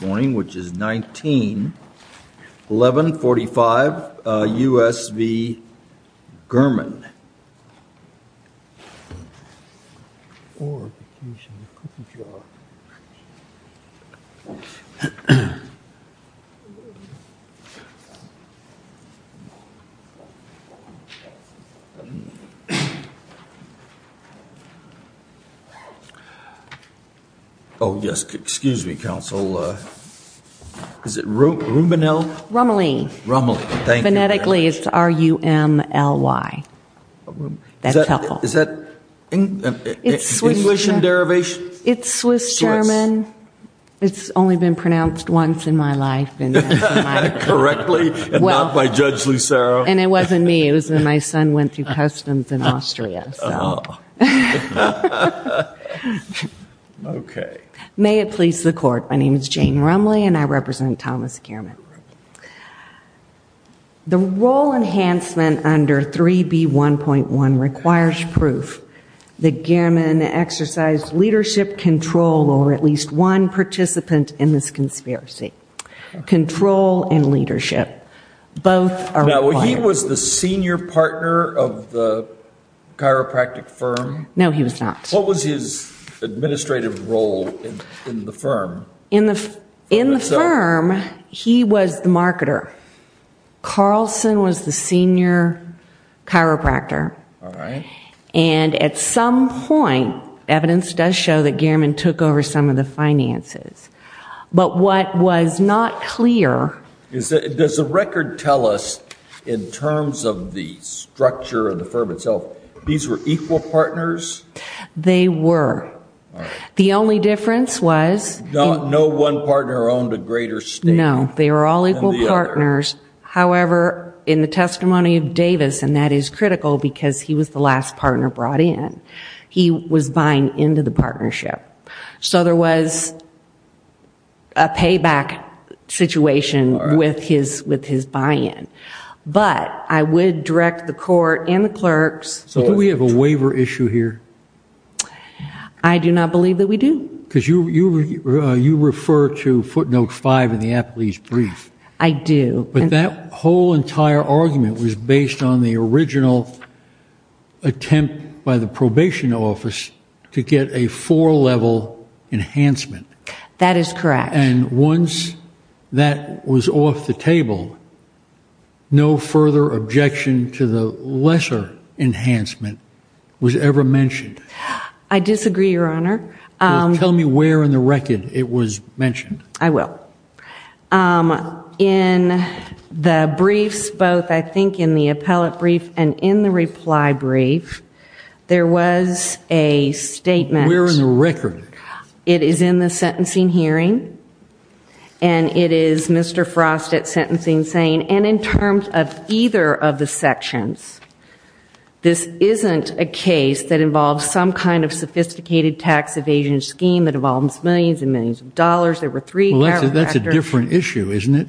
which is 19-1145 U.S. v. Gehrmann. Oh, yes, excuse me, counsel. Is it Rummel? Rummel. Rummel. Thank you. Most likely it's R-U-M-L-Y. That's helpful. Is that English in derivation? It's Swiss German. It's only been pronounced once in my life. Correctly and not by Judge Lucero. And it wasn't me. It was when my son went through customs in Austria, so. Oh. Okay. May it please the court. My name is Jane Rummel and I represent Thomas Gehrmann. The role enhancement under 3B1.1 requires proof that Gehrmann exercised leadership control or at least one participant in this conspiracy. Control and leadership. Both are required. Now, he was the senior partner of the chiropractic firm? No, he was not. What was his administrative role in the firm? In the firm, he was the marketer. Carlson was the senior chiropractor. And at some point, evidence does show that Gehrmann took over some of the finances. But what was not clear. Does the record tell us in terms of the structure of the firm itself, these were equal partners? They were. The only difference was. No one partner owned a greater stake? No. They were all equal partners. However, in the testimony of Davis, and that is critical because he was the last partner brought in, he was buying into the partnership. So there was a payback situation with his buy-in. But I would direct the court and the clerks. Do we have a waiver issue here? I do not believe that we do. You refer to footnote 5 in the appellee's brief. I do. But that whole entire argument was based on the original attempt by the probation office to get a four-level enhancement. That is correct. And once that was off the table, no further objection to the lesser enhancement was ever mentioned? I disagree, Your Honor. Tell me where in the record it was mentioned. I will. In the briefs, both I think in the appellate brief and in the reply brief, there was a statement. Where in the record? It is in the sentencing hearing. And it is Mr. Frost at sentencing saying, and in terms of either of the sections, this isn't a case that involves some kind of sophisticated tax evasion scheme that involves millions and millions of dollars. There were three characters. Well, that's a different issue, isn't it?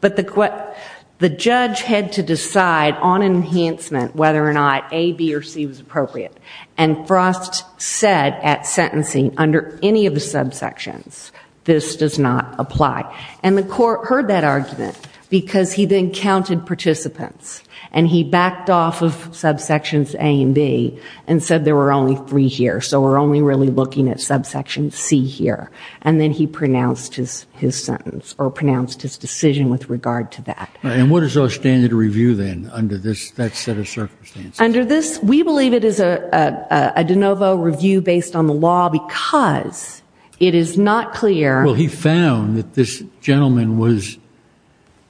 But the judge had to decide on enhancement whether or not A, B, or C was appropriate. And Frost said at sentencing, under any of the subsections, this does not apply. And the court heard that argument because he then counted participants. And he backed off of subsections A and B and said there were only three here. So we're only really looking at subsection C here. And then he pronounced his sentence or pronounced his decision with regard to that. And what is our standard review then under that set of circumstances? Under this, we believe it is a de novo review based on the law because it is not clear. Well, he found that this gentleman was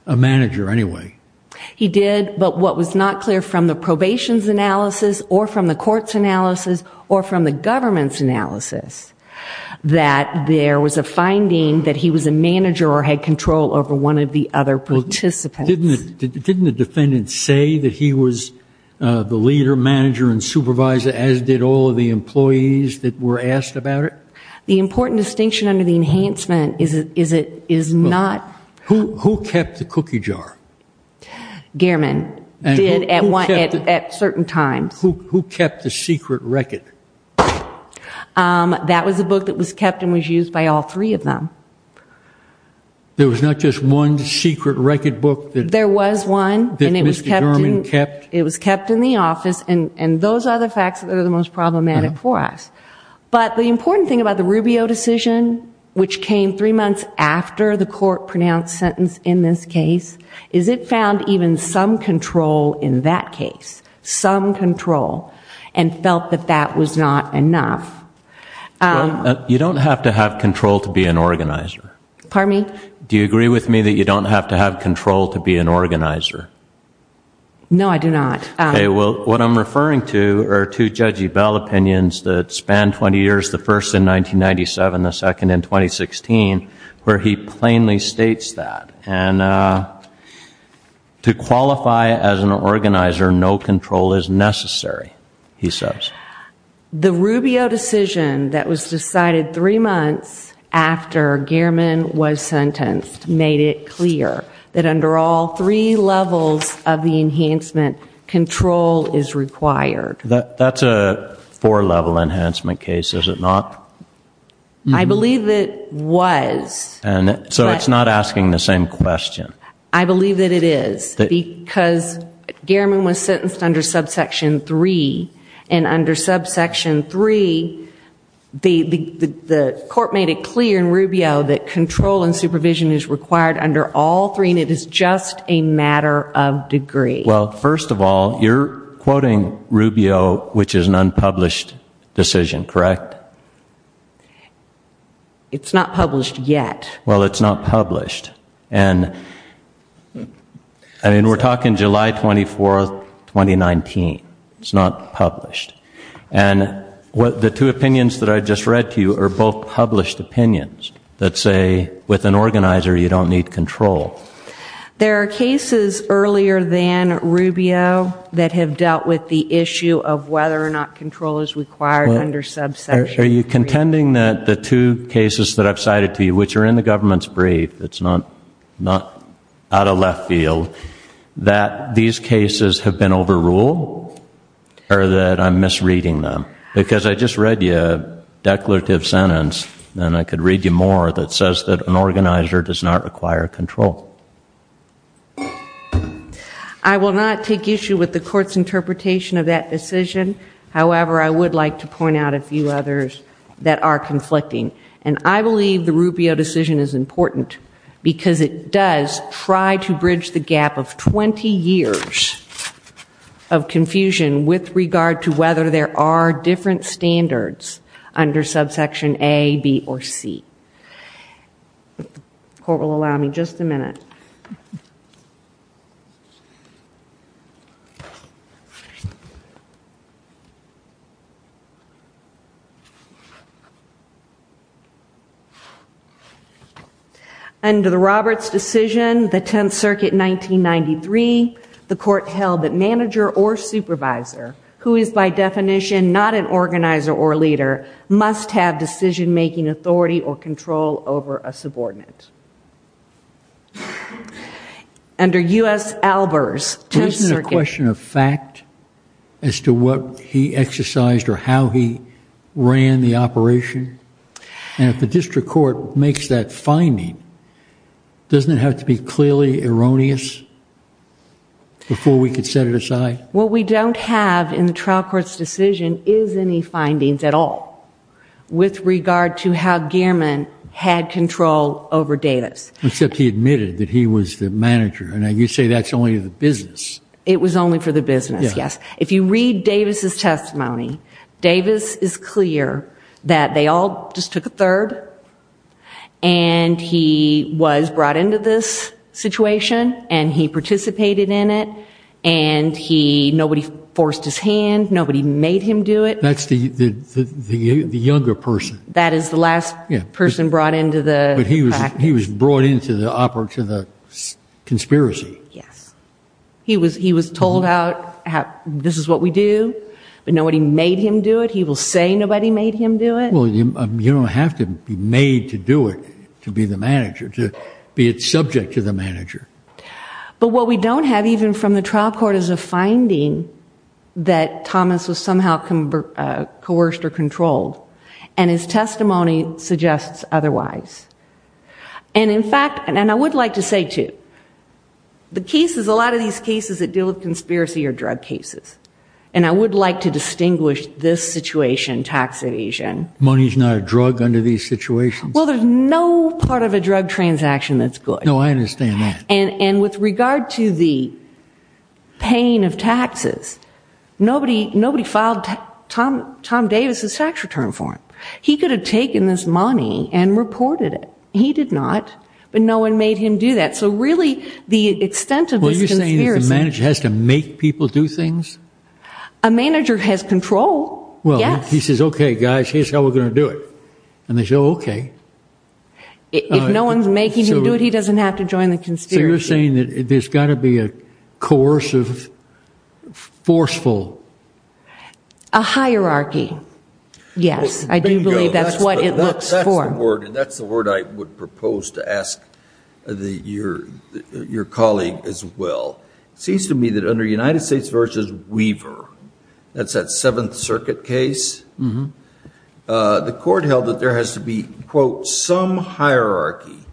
a manager anyway. He did. But what was not clear from the probation's analysis or from the court's analysis or from the government's analysis, that there was a finding that he was a manager or had control over one of the other participants. Didn't the defendant say that he was the leader, manager, and supervisor, as did all of the employees that were asked about it? The important distinction under the enhancement is it is not... Who kept the cookie jar? Gehrman did at certain times. Who kept the secret record? That was a book that was kept and was used by all three of them. There was not just one secret record book that... There was one. ...that Mr. Gehrman kept? It was kept in the office. And those are the facts that are the most problematic for us. But the important thing about the Rubio decision, which came three months after the court pronounced sentence in this case, is it found even some control in that case, some control, and felt that that was not enough. You don't have to have control to be an organizer. Pardon me? Do you agree with me that you don't have to have control to be an organizer? No, I do not. Okay. Well, what I'm referring to are two Judge Ebell opinions that span 20 years, the first in 1997, the second in 2016, where he plainly states that. And to qualify as an organizer, no control is necessary, he says. The Rubio decision that was decided three months after Gehrman was sentenced made it clear that under all three levels of the enhancement, control is required. That's a four-level enhancement case, is it not? I believe it was. So it's not asking the same question. I believe that it is, because Gehrman was sentenced under subsection three, and under subsection three, the court made it clear in Rubio that control and supervision is required under all three, and it is just a matter of degree. Well, first of all, you're quoting Rubio, which is an unpublished decision, correct? It's not published yet. Well, it's not published, and I mean, we're talking July 24th, 2019, it's not published. And the two opinions that I just read to you are both published opinions that say with an organizer, you don't need control. There are cases earlier than Rubio that have dealt with the issue of whether or not control is required under subsection three. Are you contending that the two cases that I've cited to you, which are in the government's brief, it's not out of left field, that these cases have been overruled, or that I'm misreading them? Because I just read you a declarative sentence, and I could read you more, that says that an organizer does not require control. I will not take issue with the court's interpretation of that decision. However, I would like to point out a few others that are conflicting. And I believe the Rubio decision is important because it does try to bridge the gap of 20 years of confusion with regard to whether there are different standards under subsection A, B, or C. If the court will allow me just a minute. Under the Roberts decision, the 10th Circuit, 1993, the court held that manager or supervisor, who is by definition not an organizer or leader, must have decision-making authority or control over a subordinate. Under U.S. Albers, 10th Circuit. But isn't it a question of fact as to what he exercised or how he ran the operation? And if the district court makes that finding, doesn't it have to be clearly erroneous before we could set it aside? What we don't have in the trial court's decision is any findings at all with regard to how Gehrman had control over Davis. Except he admitted that he was the manager. And you say that's only the business. It was only for the business, yes. If you read Davis's testimony, Davis is clear that they all just took a third and he was the manager. Nobody forced his hand. Nobody made him do it. That's the younger person. That is the last person brought into the package. But he was brought into the operation, the conspiracy. Yes. He was told out, this is what we do, but nobody made him do it. He will say nobody made him do it. Well, you don't have to be made to do it to be the manager, to be subject to the manager. But what we don't have, even from the trial court, is a finding that Thomas was somehow coerced or controlled. And his testimony suggests otherwise. And in fact, and I would like to say, too, the cases, a lot of these cases that deal with conspiracy are drug cases. And I would like to distinguish this situation, tax evasion. Money's not a drug under these situations. Well, there's no part of a drug transaction that's good. No, I understand that. And with regard to the paying of taxes, nobody filed Tom Davis' tax return for him. He could have taken this money and reported it. He did not. But no one made him do that. So really, the extent of this conspiracy— Well, are you saying that the manager has to make people do things? A manager has control. Yes. Well, he says, okay, guys, here's how we're going to do it. And they say, oh, okay. If no one's making him do it, he doesn't have to join the conspiracy. So you're saying that there's got to be a coercive, forceful— A hierarchy. Yes. I do believe that's what it looks for. That's the word I would propose to ask your colleague as well. It seems to me that under United States v. Weaver, that's that Seventh Circuit case, the court held that there has to be, quote, some hierarchy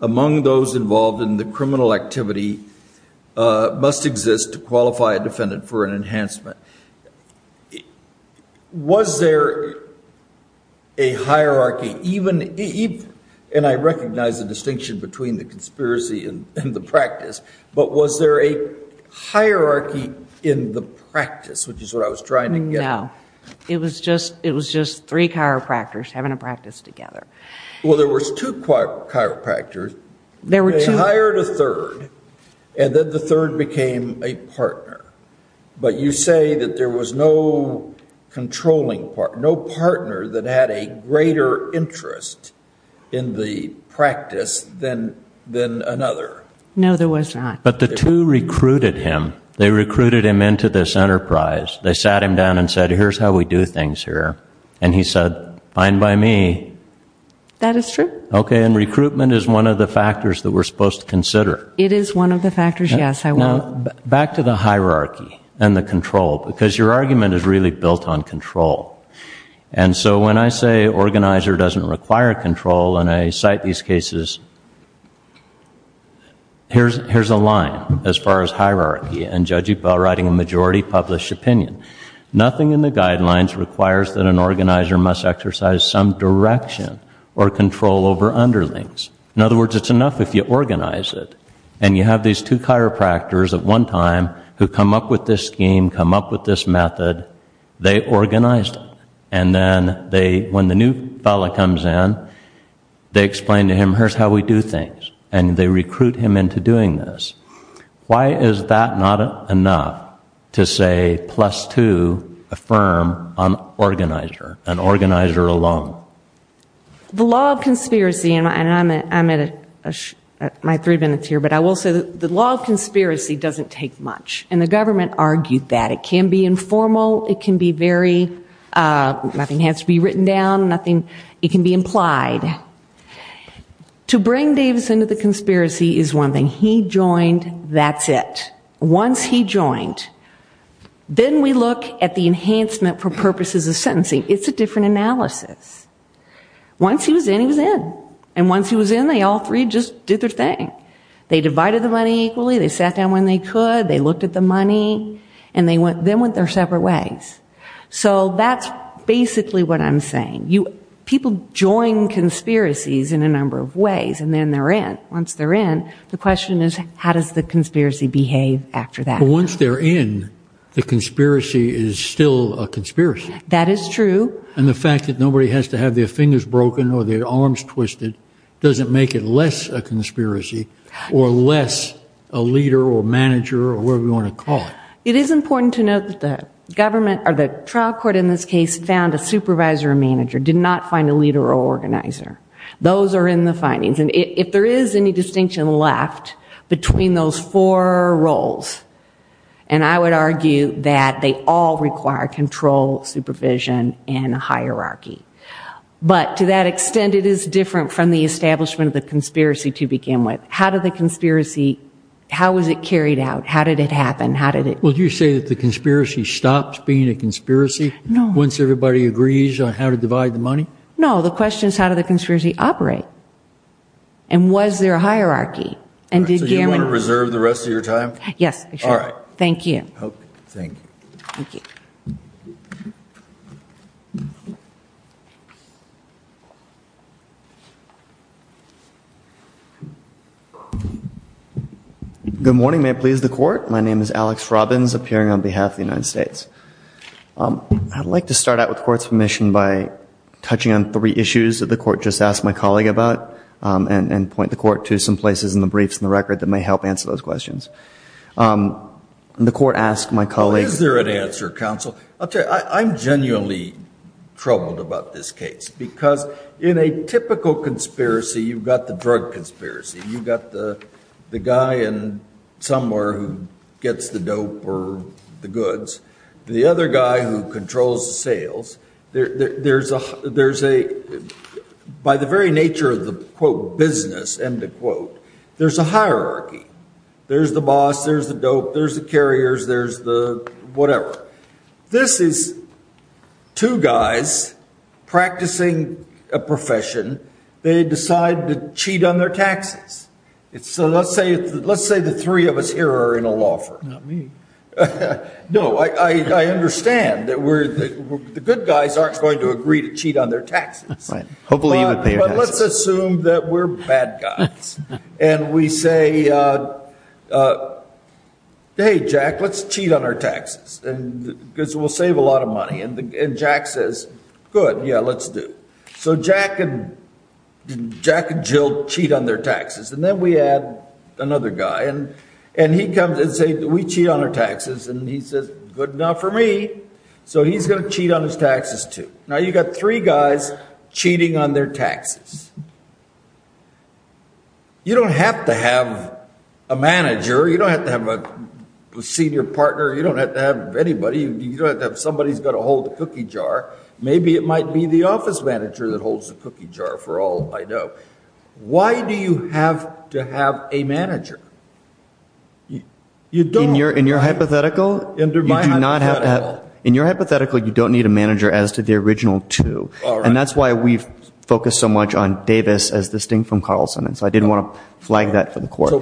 among those involved in the criminal activity must exist to qualify a defendant for an enhancement. Was there a hierarchy even—and I recognize the distinction between the conspiracy and the practice—but was there a hierarchy in the practice, which is what I was trying to get at? No. It was just three chiropractors having a practice together. Well, there was two chiropractors. They hired a third, and then the third became a partner. But you say that there was no controlling partner, no partner that had a greater interest in the practice than another. No, there was not. But the two recruited him. They recruited him into this enterprise. They sat him down and said, here's how we do things here. And he said, fine by me. That is true. Okay, and recruitment is one of the factors that we're supposed to consider. It is one of the factors, yes, I will— Back to the hierarchy and the control, because your argument is really built on control. And so when I say organizer doesn't require control, and I cite these cases, here's a line as far as hierarchy and Judge Ebell writing a majority published opinion. Nothing in the guidelines requires that an organizer must exercise some direction or control over underlings. In other words, it's enough if you organize it. And you have these two chiropractors at one time who come up with this scheme, come up with this method. They organized it. And then when the new fellow comes in, they explain to him, here's how we do things. And they recruit him into doing this. Why is that not enough to say, plus two, affirm an organizer, an organizer alone? The law of conspiracy, and I'm at my three minutes here, but I will say that the law of conspiracy doesn't take much. And the government argued that. It can be informal. It can be very—nothing has to be written down. It can be implied. To bring Davis into the conspiracy is one thing. He joined, that's it. Once he joined, then we look at the enhancement for purposes of sentencing. It's a different analysis. Once he was in, he was in. And once he was in, they all three just did their thing. They divided the money equally. They sat down when they could. They looked at the money. And then went their separate ways. So that's basically what I'm saying. People join conspiracies in a number of ways, and then they're in. Once they're in, the question is, how does the conspiracy behave after that? Once they're in, the conspiracy is still a conspiracy. That is true. And the fact that nobody has to have their fingers broken or their arms twisted doesn't make it less a conspiracy or less a leader or manager or whatever you want to call it. It is important to note that the government or the trial court in this case found a supervisor or manager, did not find a leader or organizer. Those are in the findings. And if there is any distinction left between those four roles, and I would argue that they all require control, supervision, and hierarchy. But to that extent, it is different from the establishment of the conspiracy to begin with. How did the conspiracy, how was it carried out? How did it happen? How did it? Well, do you say that the conspiracy stops being a conspiracy? No. Once everybody agrees on how to divide the money? No. The question is, how did the conspiracy operate? And was there a hierarchy? And did Gehrman- So you want to reserve the rest of your time? Yes, I should. All right. Thank you. Thank you. Thank you. Good morning. May it please the court? My name is Alex Robbins, appearing on behalf of the United States. I'd like to start out with the court's permission by touching on three issues that the court just asked my colleague about, and point the court to some places in the briefs and the record that may help answer those questions. The court asked my colleague- Is there an answer, counsel? I'll tell you, I'm genuinely troubled about this case. Because in a typical conspiracy, you've got the drug conspiracy. You've got the guy in somewhere who gets the dope or the goods. The other guy who controls the sales. By the very nature of the quote, business, end of quote, there's a hierarchy. There's the boss, there's the dope, there's the carriers, there's the whatever. This is two guys practicing a profession. They decide to cheat on their taxes. So let's say the three of us here are in a law firm. Not me. No, I understand that the good guys aren't going to agree to cheat on their taxes. Right. Hopefully you would pay your taxes. But let's assume that we're bad guys. And we say, hey Jack, let's cheat on our taxes, because we'll save a lot of money. And Jack says, good, yeah, let's do. So Jack and Jill cheat on their taxes. And then we add another guy. And he comes and says, we cheat on our taxes. And he says, good, not for me. So he's going to cheat on his taxes too. Now you've got three guys cheating on their taxes. You don't have to have a manager. You don't have to have a senior partner. You don't have to have anybody. You don't have to have somebody who's got to hold the cookie jar. Maybe it might be the office manager that holds the cookie jar, for all I know. Why do you have to have a manager? You don't. In your hypothetical, you do not have to have. In your hypothetical, you don't need a manager as to the original two. And that's why we've focused so much on Davis as distinct from Carlson. And so I didn't want to flag that for the court.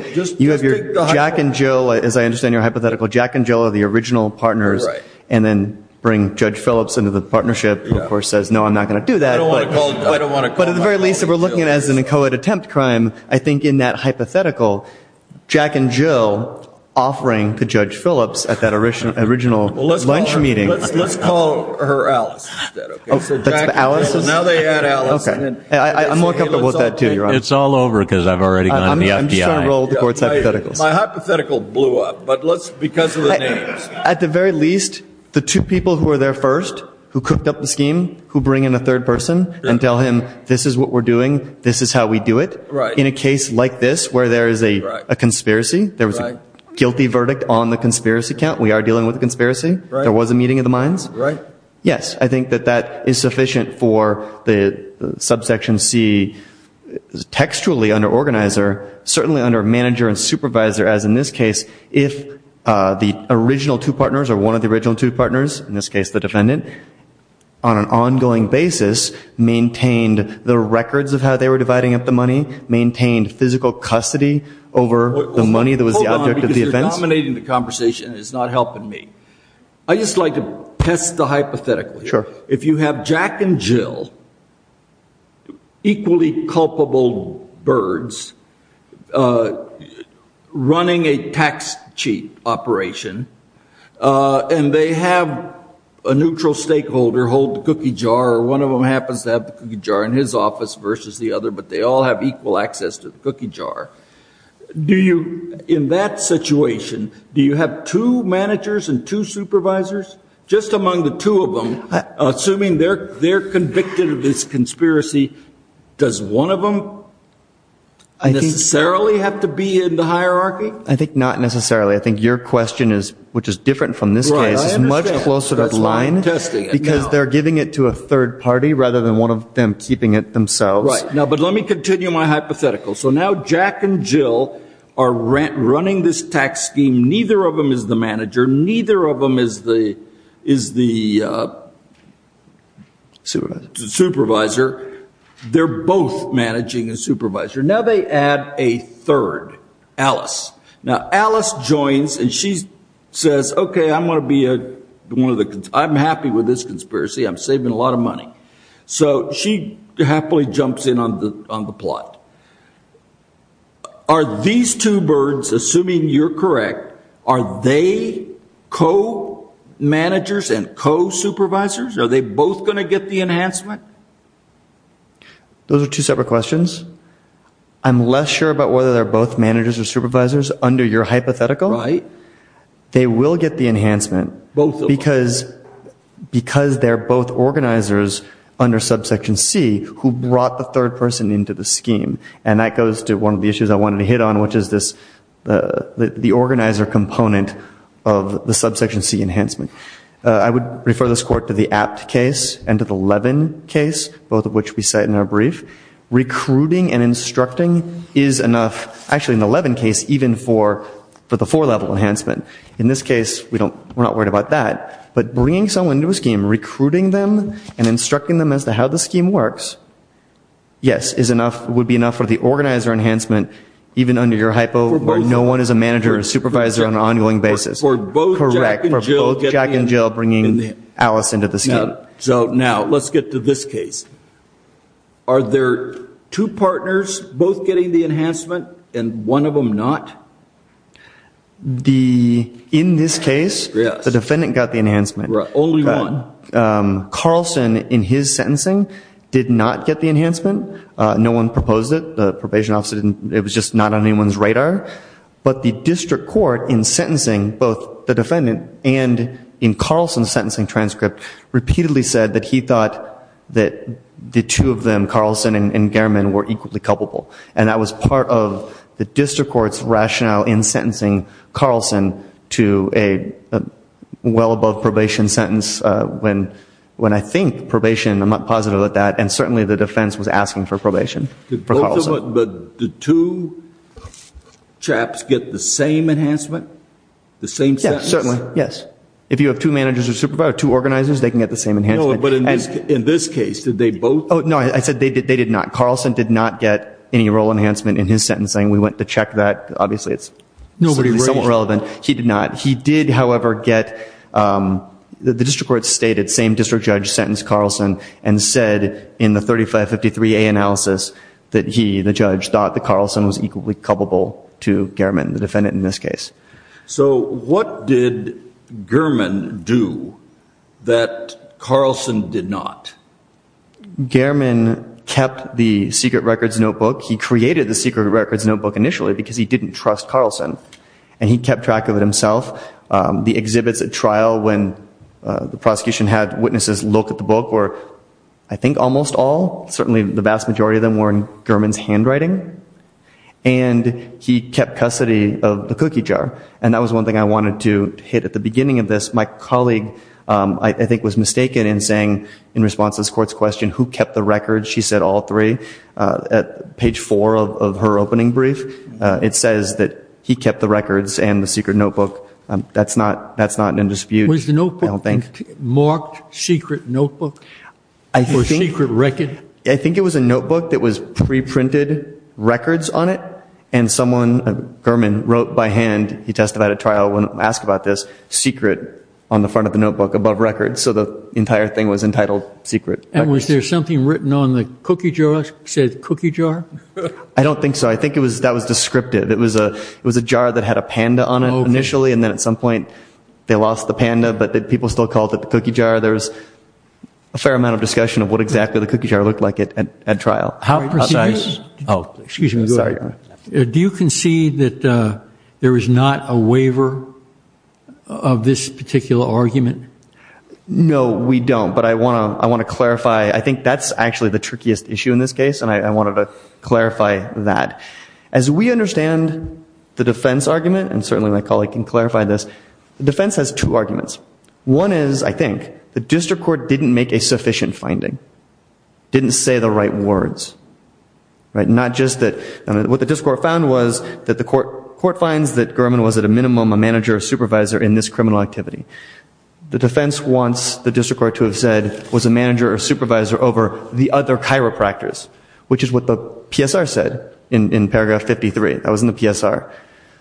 You have your Jack and Jill, as I understand your hypothetical, Jack and Jill are the original partners. And then bring Judge Phillips into the partnership, who, of course, says, no, I'm not going to do that. But at the very least, if we're looking at it as an inchoate attempt crime, I think in that hypothetical, Jack and Jill offering to Judge Phillips at that original lunch meeting. Let's call her Alice instead, OK? So Jack and Jill. Now they add Alice. I'm more comfortable with that too, Your Honor. It's all over, because I've already gone to the FBI. I'm just trying to roll the court's hypotheticals. My hypothetical blew up. But let's, because of the names. At the very least, the two people who were there first, who cooked up the scheme, who bring in a third person and tell him, this is what we're doing. This is how we do it. In a case like this, where there is a conspiracy, there was a guilty verdict on the conspiracy count. We are dealing with a conspiracy. There was a meeting of the minds. Yes, I think that that is sufficient for the subsection C textually under organizer, certainly under manager and supervisor, as in this case, if the original two partners, or one of the original two partners, in this case the defendant, on an ongoing basis maintained the records of how they were dividing up the money, maintained physical custody over the money that was the object of the events. Hold on, because you're dominating the conversation. It's not helping me. I just like to test the hypothetical. If you have Jack and Jill, equally culpable birds, running a tax cheat operation, and they have a neutral stakeholder hold the cookie jar, or one of them happens to have the cookie jar in his office versus the other, but they all have equal access to the cookie jar, in that situation, do you have two managers and two supervisors? Just among the two of them, assuming they're convicted of this conspiracy, does one of them necessarily have to be in the hierarchy? I think not necessarily. I think your question is, which is different from this case, is much closer to the line, because they're giving it to a third party rather than one of them keeping it themselves. Right. But let me continue my hypothetical. So now Jack and Jill are running this tax scheme. Neither of them is the manager. Neither of them is the supervisor. They're both managing a supervisor. Now they add a third, Alice. Now Alice joins, and she says, OK, I'm happy with this conspiracy. I'm saving a lot of money. So she happily jumps in on the plot. Are these two birds, assuming you're correct, are they co-managers and co-supervisors? Are they both going to get the enhancement? Those are two separate questions. I'm less sure about whether they're both managers or supervisors under your hypothetical. Right. They will get the enhancement, because they're both organizers under subsection C who brought the third person into the scheme. And that goes to one of the issues I wanted to hit on, which is the organizer component of the subsection C enhancement. I would refer this court to the Apt case and to the Levin case, both of which we cite in our brief. Recruiting and instructing is enough, actually in the Levin case, even for the four-level enhancement. In this case, we're not worried about that. But bringing someone to a scheme, recruiting them and instructing them as to how the scheme works, yes, would be enough for the organizer enhancement, even under your hypo, where no one is a manager or supervisor on an ongoing basis. For both Jack and Jill getting the enhancement. Correct, for both Jack and Jill bringing Alice into the scheme. So now, let's get to this case. Are there two partners both getting the enhancement and one of them not? In this case, the defendant got the enhancement. Only one. Carlson, in his sentencing, did not get the enhancement. No one proposed it. The probation officer didn't. It was just not on anyone's radar. But the district court, in sentencing both the defendant and in Carlson's sentencing transcript, repeatedly said that he thought that the two of them, Carlson and Gehrman, were equally culpable. And that was part of the district court's rationale in sentencing Carlson to a well-above-probation sentence. When I think probation, I'm not positive with that. And certainly, the defense was asking for probation for Carlson. Did two chaps get the same enhancement, the same sentence? Yes, certainly. Yes. If you have two managers or supervisors, two organizers, they can get the same enhancement. No, but in this case, did they both? Oh, no. I said they did not. Carlson did not get any role enhancement in his sentencing. We went to check that. Obviously, it's somewhat relevant. He did not. He did, however, get the district court's stated same district judge sentenced Carlson and said, in the 3553A analysis, that he, the judge, thought that Carlson was equally culpable to Gehrman, the defendant in this case. So what did Gehrman do that Carlson did not? Gehrman kept the secret records notebook. He created the secret records notebook initially because he didn't trust Carlson. And he kept track of it himself. The exhibits at trial when the prosecution had witnesses look at the book were, I think, almost all, certainly the vast majority of them, were in Gehrman's handwriting. And he kept custody of the cookie jar. And that was one thing I wanted to hit at the beginning of this. My colleague, I think, was mistaken in saying, in response to this court's question, who kept the records? She said all three. At page four of her opening brief, it says that he kept the records and the secret notebook. That's not an indispute, I don't think. Was the notebook marked secret notebook or secret record? I think it was a notebook that was pre-printed records on it. And someone, Gehrman, wrote by hand, he testified at trial when asked about this, secret on the front of the notebook above records. So the entire thing was entitled secret records. And was there something written on the cookie jar, said cookie jar? I don't think so. I think that was descriptive. It was a jar that had a panda on it initially. And then at some point, they lost the panda. But people still called it the cookie jar. There was a fair amount of discussion of what exactly the cookie jar looked like at trial. How precise? Oh, excuse me. Sorry. Do you concede that there is not a waiver of this particular argument? No, we don't. But I want to clarify. I think that's actually the trickiest issue in this case. And I wanted to clarify that. As we understand the defense argument, and certainly my colleague can clarify this, the defense has two arguments. One is, I think, the district court didn't make a sufficient finding, didn't say the right words. Not just that what the district court found was that the court finds that Gurman was at a minimum a manager or supervisor in this criminal activity. The defense wants the district court to have said was a manager or supervisor over the other chiropractors, which is what the PSR said in paragraph 53. That was in the PSR.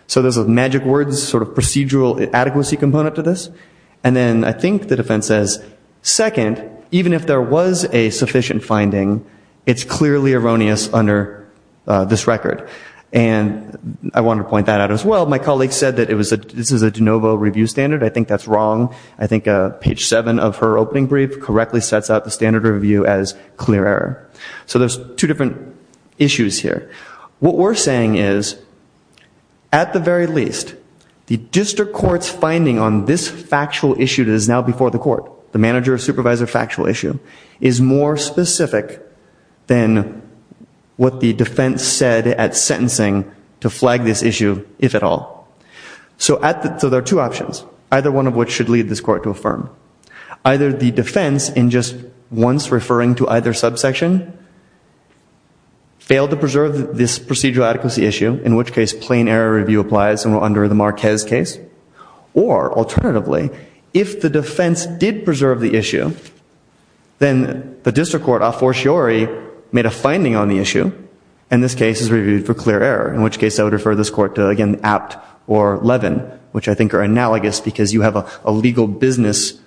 So there's a magic words, sort of procedural adequacy component to this. And then I think the defense says, second, even if there was a sufficient finding, it's clearly erroneous under this record. And I want to point that out as well. My colleague said that this is a de novo review standard. I think that's wrong. I think page seven of her opening brief correctly sets out the standard review as clear error. So there's two different issues here. What we're saying is, at the very least, the district court's finding on this factual issue that is now before the court, the manager or supervisor factual issue, is more specific than what the defense said at sentencing to flag this issue, if at all. So there are two options, either one of which should lead this court to affirm. Either the defense, in just once referring to either subsection, failed to preserve this procedural adequacy issue, in which case plain error review applies and we're under the Marquez case. Or alternatively, if the defense did preserve the issue, then the district court, a fortiori, made a finding on the issue, and this case is reviewed for clear error. In which case, I would refer this court to, again, Apt or Levin, which I think are analogous because you have a legal business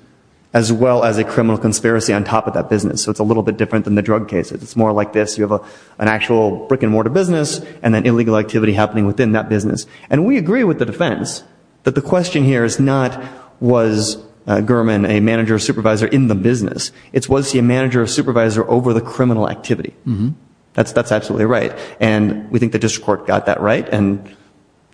as well as a criminal conspiracy on top of that business. So it's a little bit different than the drug cases. It's more like this. You have an actual brick and mortar business and then illegal activity happening within that business. And we agree with the defense that the question here is not, was Gurman a manager or supervisor in the business? It's, was he a manager or supervisor over the criminal activity? That's absolutely right. And we think the district court got that right, and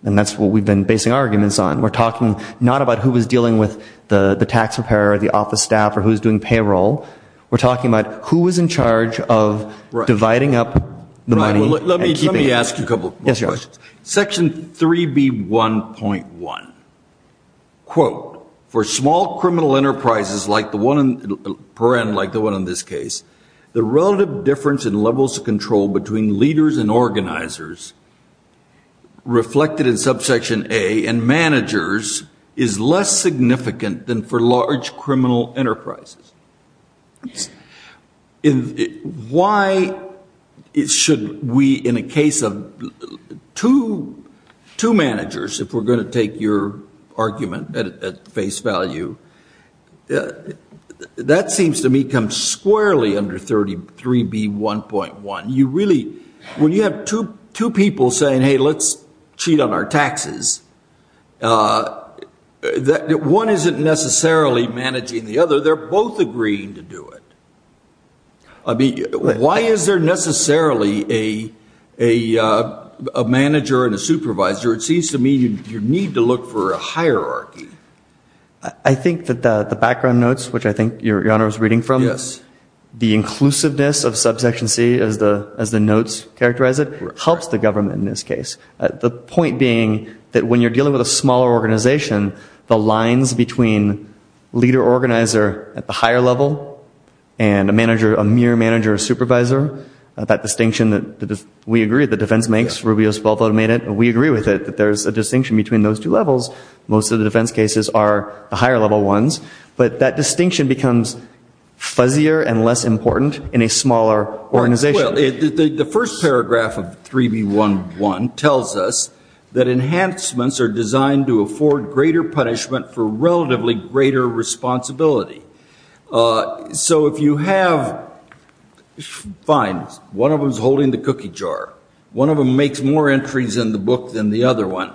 that's what we've been basing arguments on. We're talking not about who was dealing with the tax preparer, the office staff, or who's doing payroll. We're talking about who was in charge of dividing up the money and keeping it. Let me ask you a couple more questions. Section 3B1.1, quote, for small criminal enterprises like the one in this case, the relative difference in levels of control between leaders and organizers reflected in subsection A and managers is less significant than for large criminal enterprises. Why should we, in a case of two managers, if we're going to take your argument at face value, that seems to me come squarely under 33B1.1. You really, when you have two people saying, hey, let's cheat on our taxes, one isn't necessarily managing the other. They're both managing the other. They're both agreeing to do it. Why is there necessarily a manager and a supervisor? It seems to me you need to look for a hierarchy. I think that the background notes, which I think your honor is reading from, the inclusiveness of subsection C, as the notes characterize it, helps the government in this case. The point being that when you're dealing with a smaller organization, the lines between leader, organizer, at the higher level, and a mere manager or supervisor, that distinction that we agree that the defense makes, Rubio's 12 automated, we agree with it, that there's a distinction between those two levels. Most of the defense cases are the higher level ones. But that distinction becomes fuzzier and less important in a smaller organization. The first paragraph of 3B1.1 tells us that enhancements are designed to afford greater punishment for relatively greater responsibility. So if you have, fine, one of them's holding the cookie jar. One of them makes more entries in the book than the other one.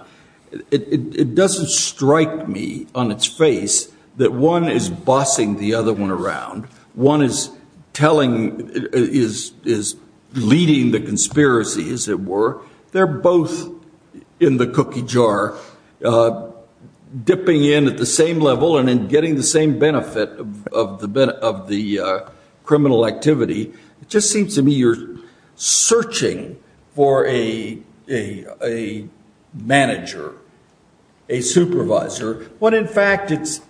It doesn't strike me on its face that one is bossing the other one around. One is leading the conspiracy, as it were. They're both in the cookie jar, dipping in at the same level and then getting the same benefit of the criminal activity. It just seems to me you're searching for a manager, a supervisor, when, in fact, it's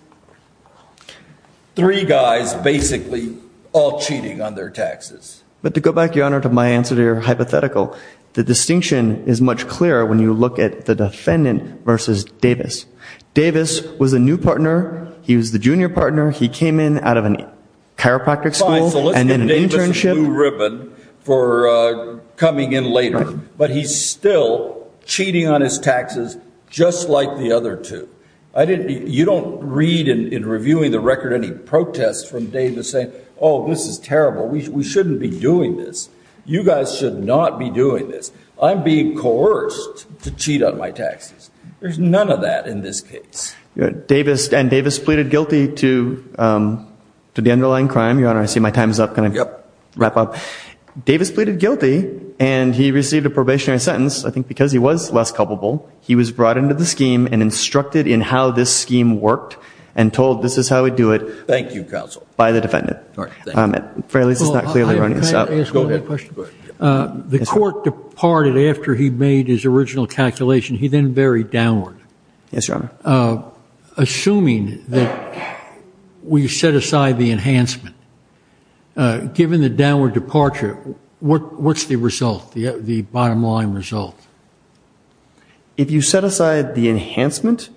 three guys basically all cheating on their taxes. But to go back, Your Honor, to my answer to your hypothetical, the distinction is much clearer when you look at the defendant versus Davis. Davis was a new partner. He was the junior partner. He came in out of a chiropractic school and an internship. Fine, so let's give Davis a blue ribbon for coming in later. But he's still cheating on his taxes just like the other two. You don't read in reviewing the record any protests from Davis saying, oh, this is terrible. We shouldn't be doing this. You guys should not be doing this. I'm being coerced to cheat on my taxes. There's none of that in this case. And Davis pleaded guilty to the underlying crime, Your Honor. I see my time's up. Can I wrap up? Davis pleaded guilty. And he received a probationary sentence, I think because he was less culpable. He was brought into the scheme and instructed in how this scheme worked and told this is how we do it. Thank you, counsel. By the defendant. At the very least, it's not clearly running this out. Can I ask one more question? The court departed after he made his original calculation. He then varied downward. Yes, Your Honor. Assuming that we set aside the enhancement, given the downward departure, what's the result, the bottom line result? If you set aside the enhancement,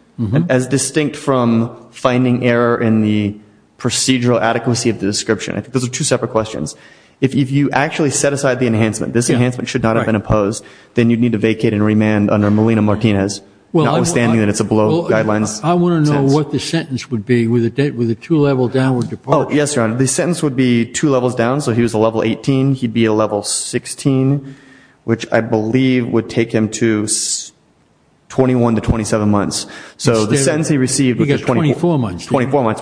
as distinct from finding error in the procedural adequacy of the description, those are two separate questions. If you actually set aside the enhancement, this enhancement should not have been opposed, then you'd need to vacate and remand under Melina Martinez, notwithstanding that it's below guidelines. I want to know what the sentence would be with a two level downward departure. Yes, Your Honor. The sentence would be two levels down. So he was a level 18. He'd be a level 16, which I believe would take him to 21 to 27 months. So the sentence he received was 24 months,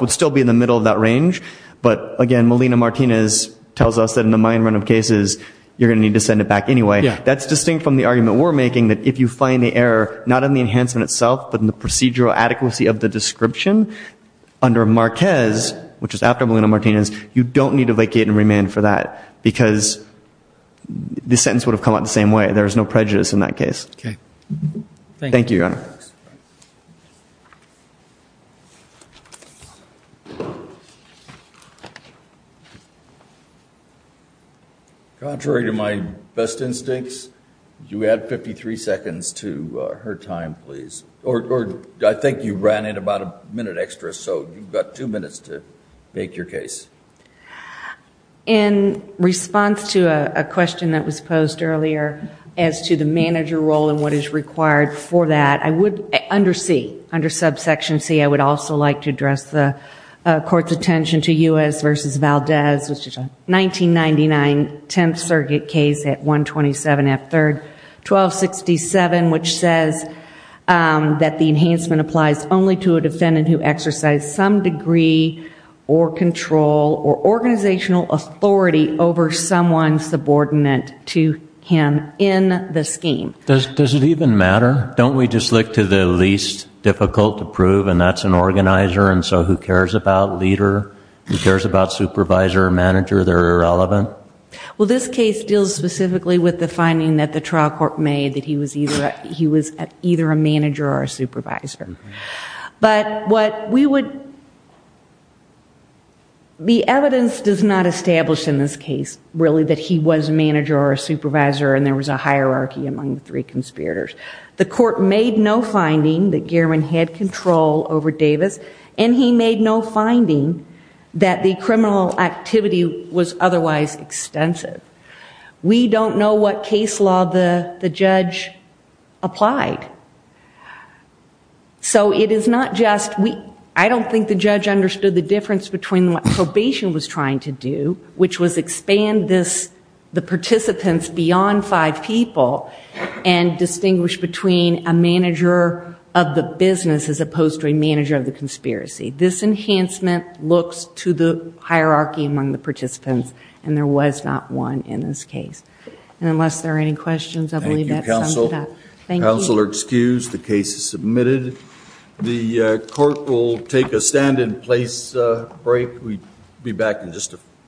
would still be in the middle of that range. But again, Melina Martinez tells us that in the mine run of cases, you're going to need to send it back anyway. That's distinct from the argument we're making, that if you find the error, not in the enhancement itself, but in the procedural adequacy of the description, under Marquez, which is after Melina Martinez, you don't need to vacate and remand for that. Because the sentence would have come out the same way. There is no prejudice in that case. OK. Thank you, Your Honor. Contrary to my best instincts, you add 53 seconds to her time, please. Or I think you ran in about a minute extra. So you've got two minutes to make your case. In response to a question that was posed earlier as to the manager role and what is required for that, I would under C, under subsection C, I would also like to address the court's attention to U.S. versus Valdez, which is a 1999 10th circuit case at 127 F 3rd 1267, which says that the enhancement applies only to a defendant who exercised some degree or control or organizational authority over someone subordinate to him in the scheme. Does it even matter? Don't we just look to the least difficult to prove, and that's an organizer? And so who cares about leader? Who cares about supervisor or manager? They're irrelevant? Well, this case deals specifically with the finding that the trial court made, that he was either a manager or a supervisor. But the evidence does not establish in this case, really, that he was a manager or a supervisor and there was a hierarchy among the three conspirators. The court made no finding that Gehrman had control over Davis and he made no finding that the criminal activity was otherwise extensive. We don't know what case law the judge applied. So it is not just we, I don't think the judge understood the difference between what probation was trying to do, which was expand the participants beyond five people and distinguish between a manager of the business as opposed to a manager of the conspiracy. This enhancement looks to the hierarchy among the participants, and there was not one in this case. And unless there are any questions, I believe that sums it up. Thank you, counsel. Counsel are excused. The case is submitted. The court will take a stand in place break. We'll be back in just a few minutes.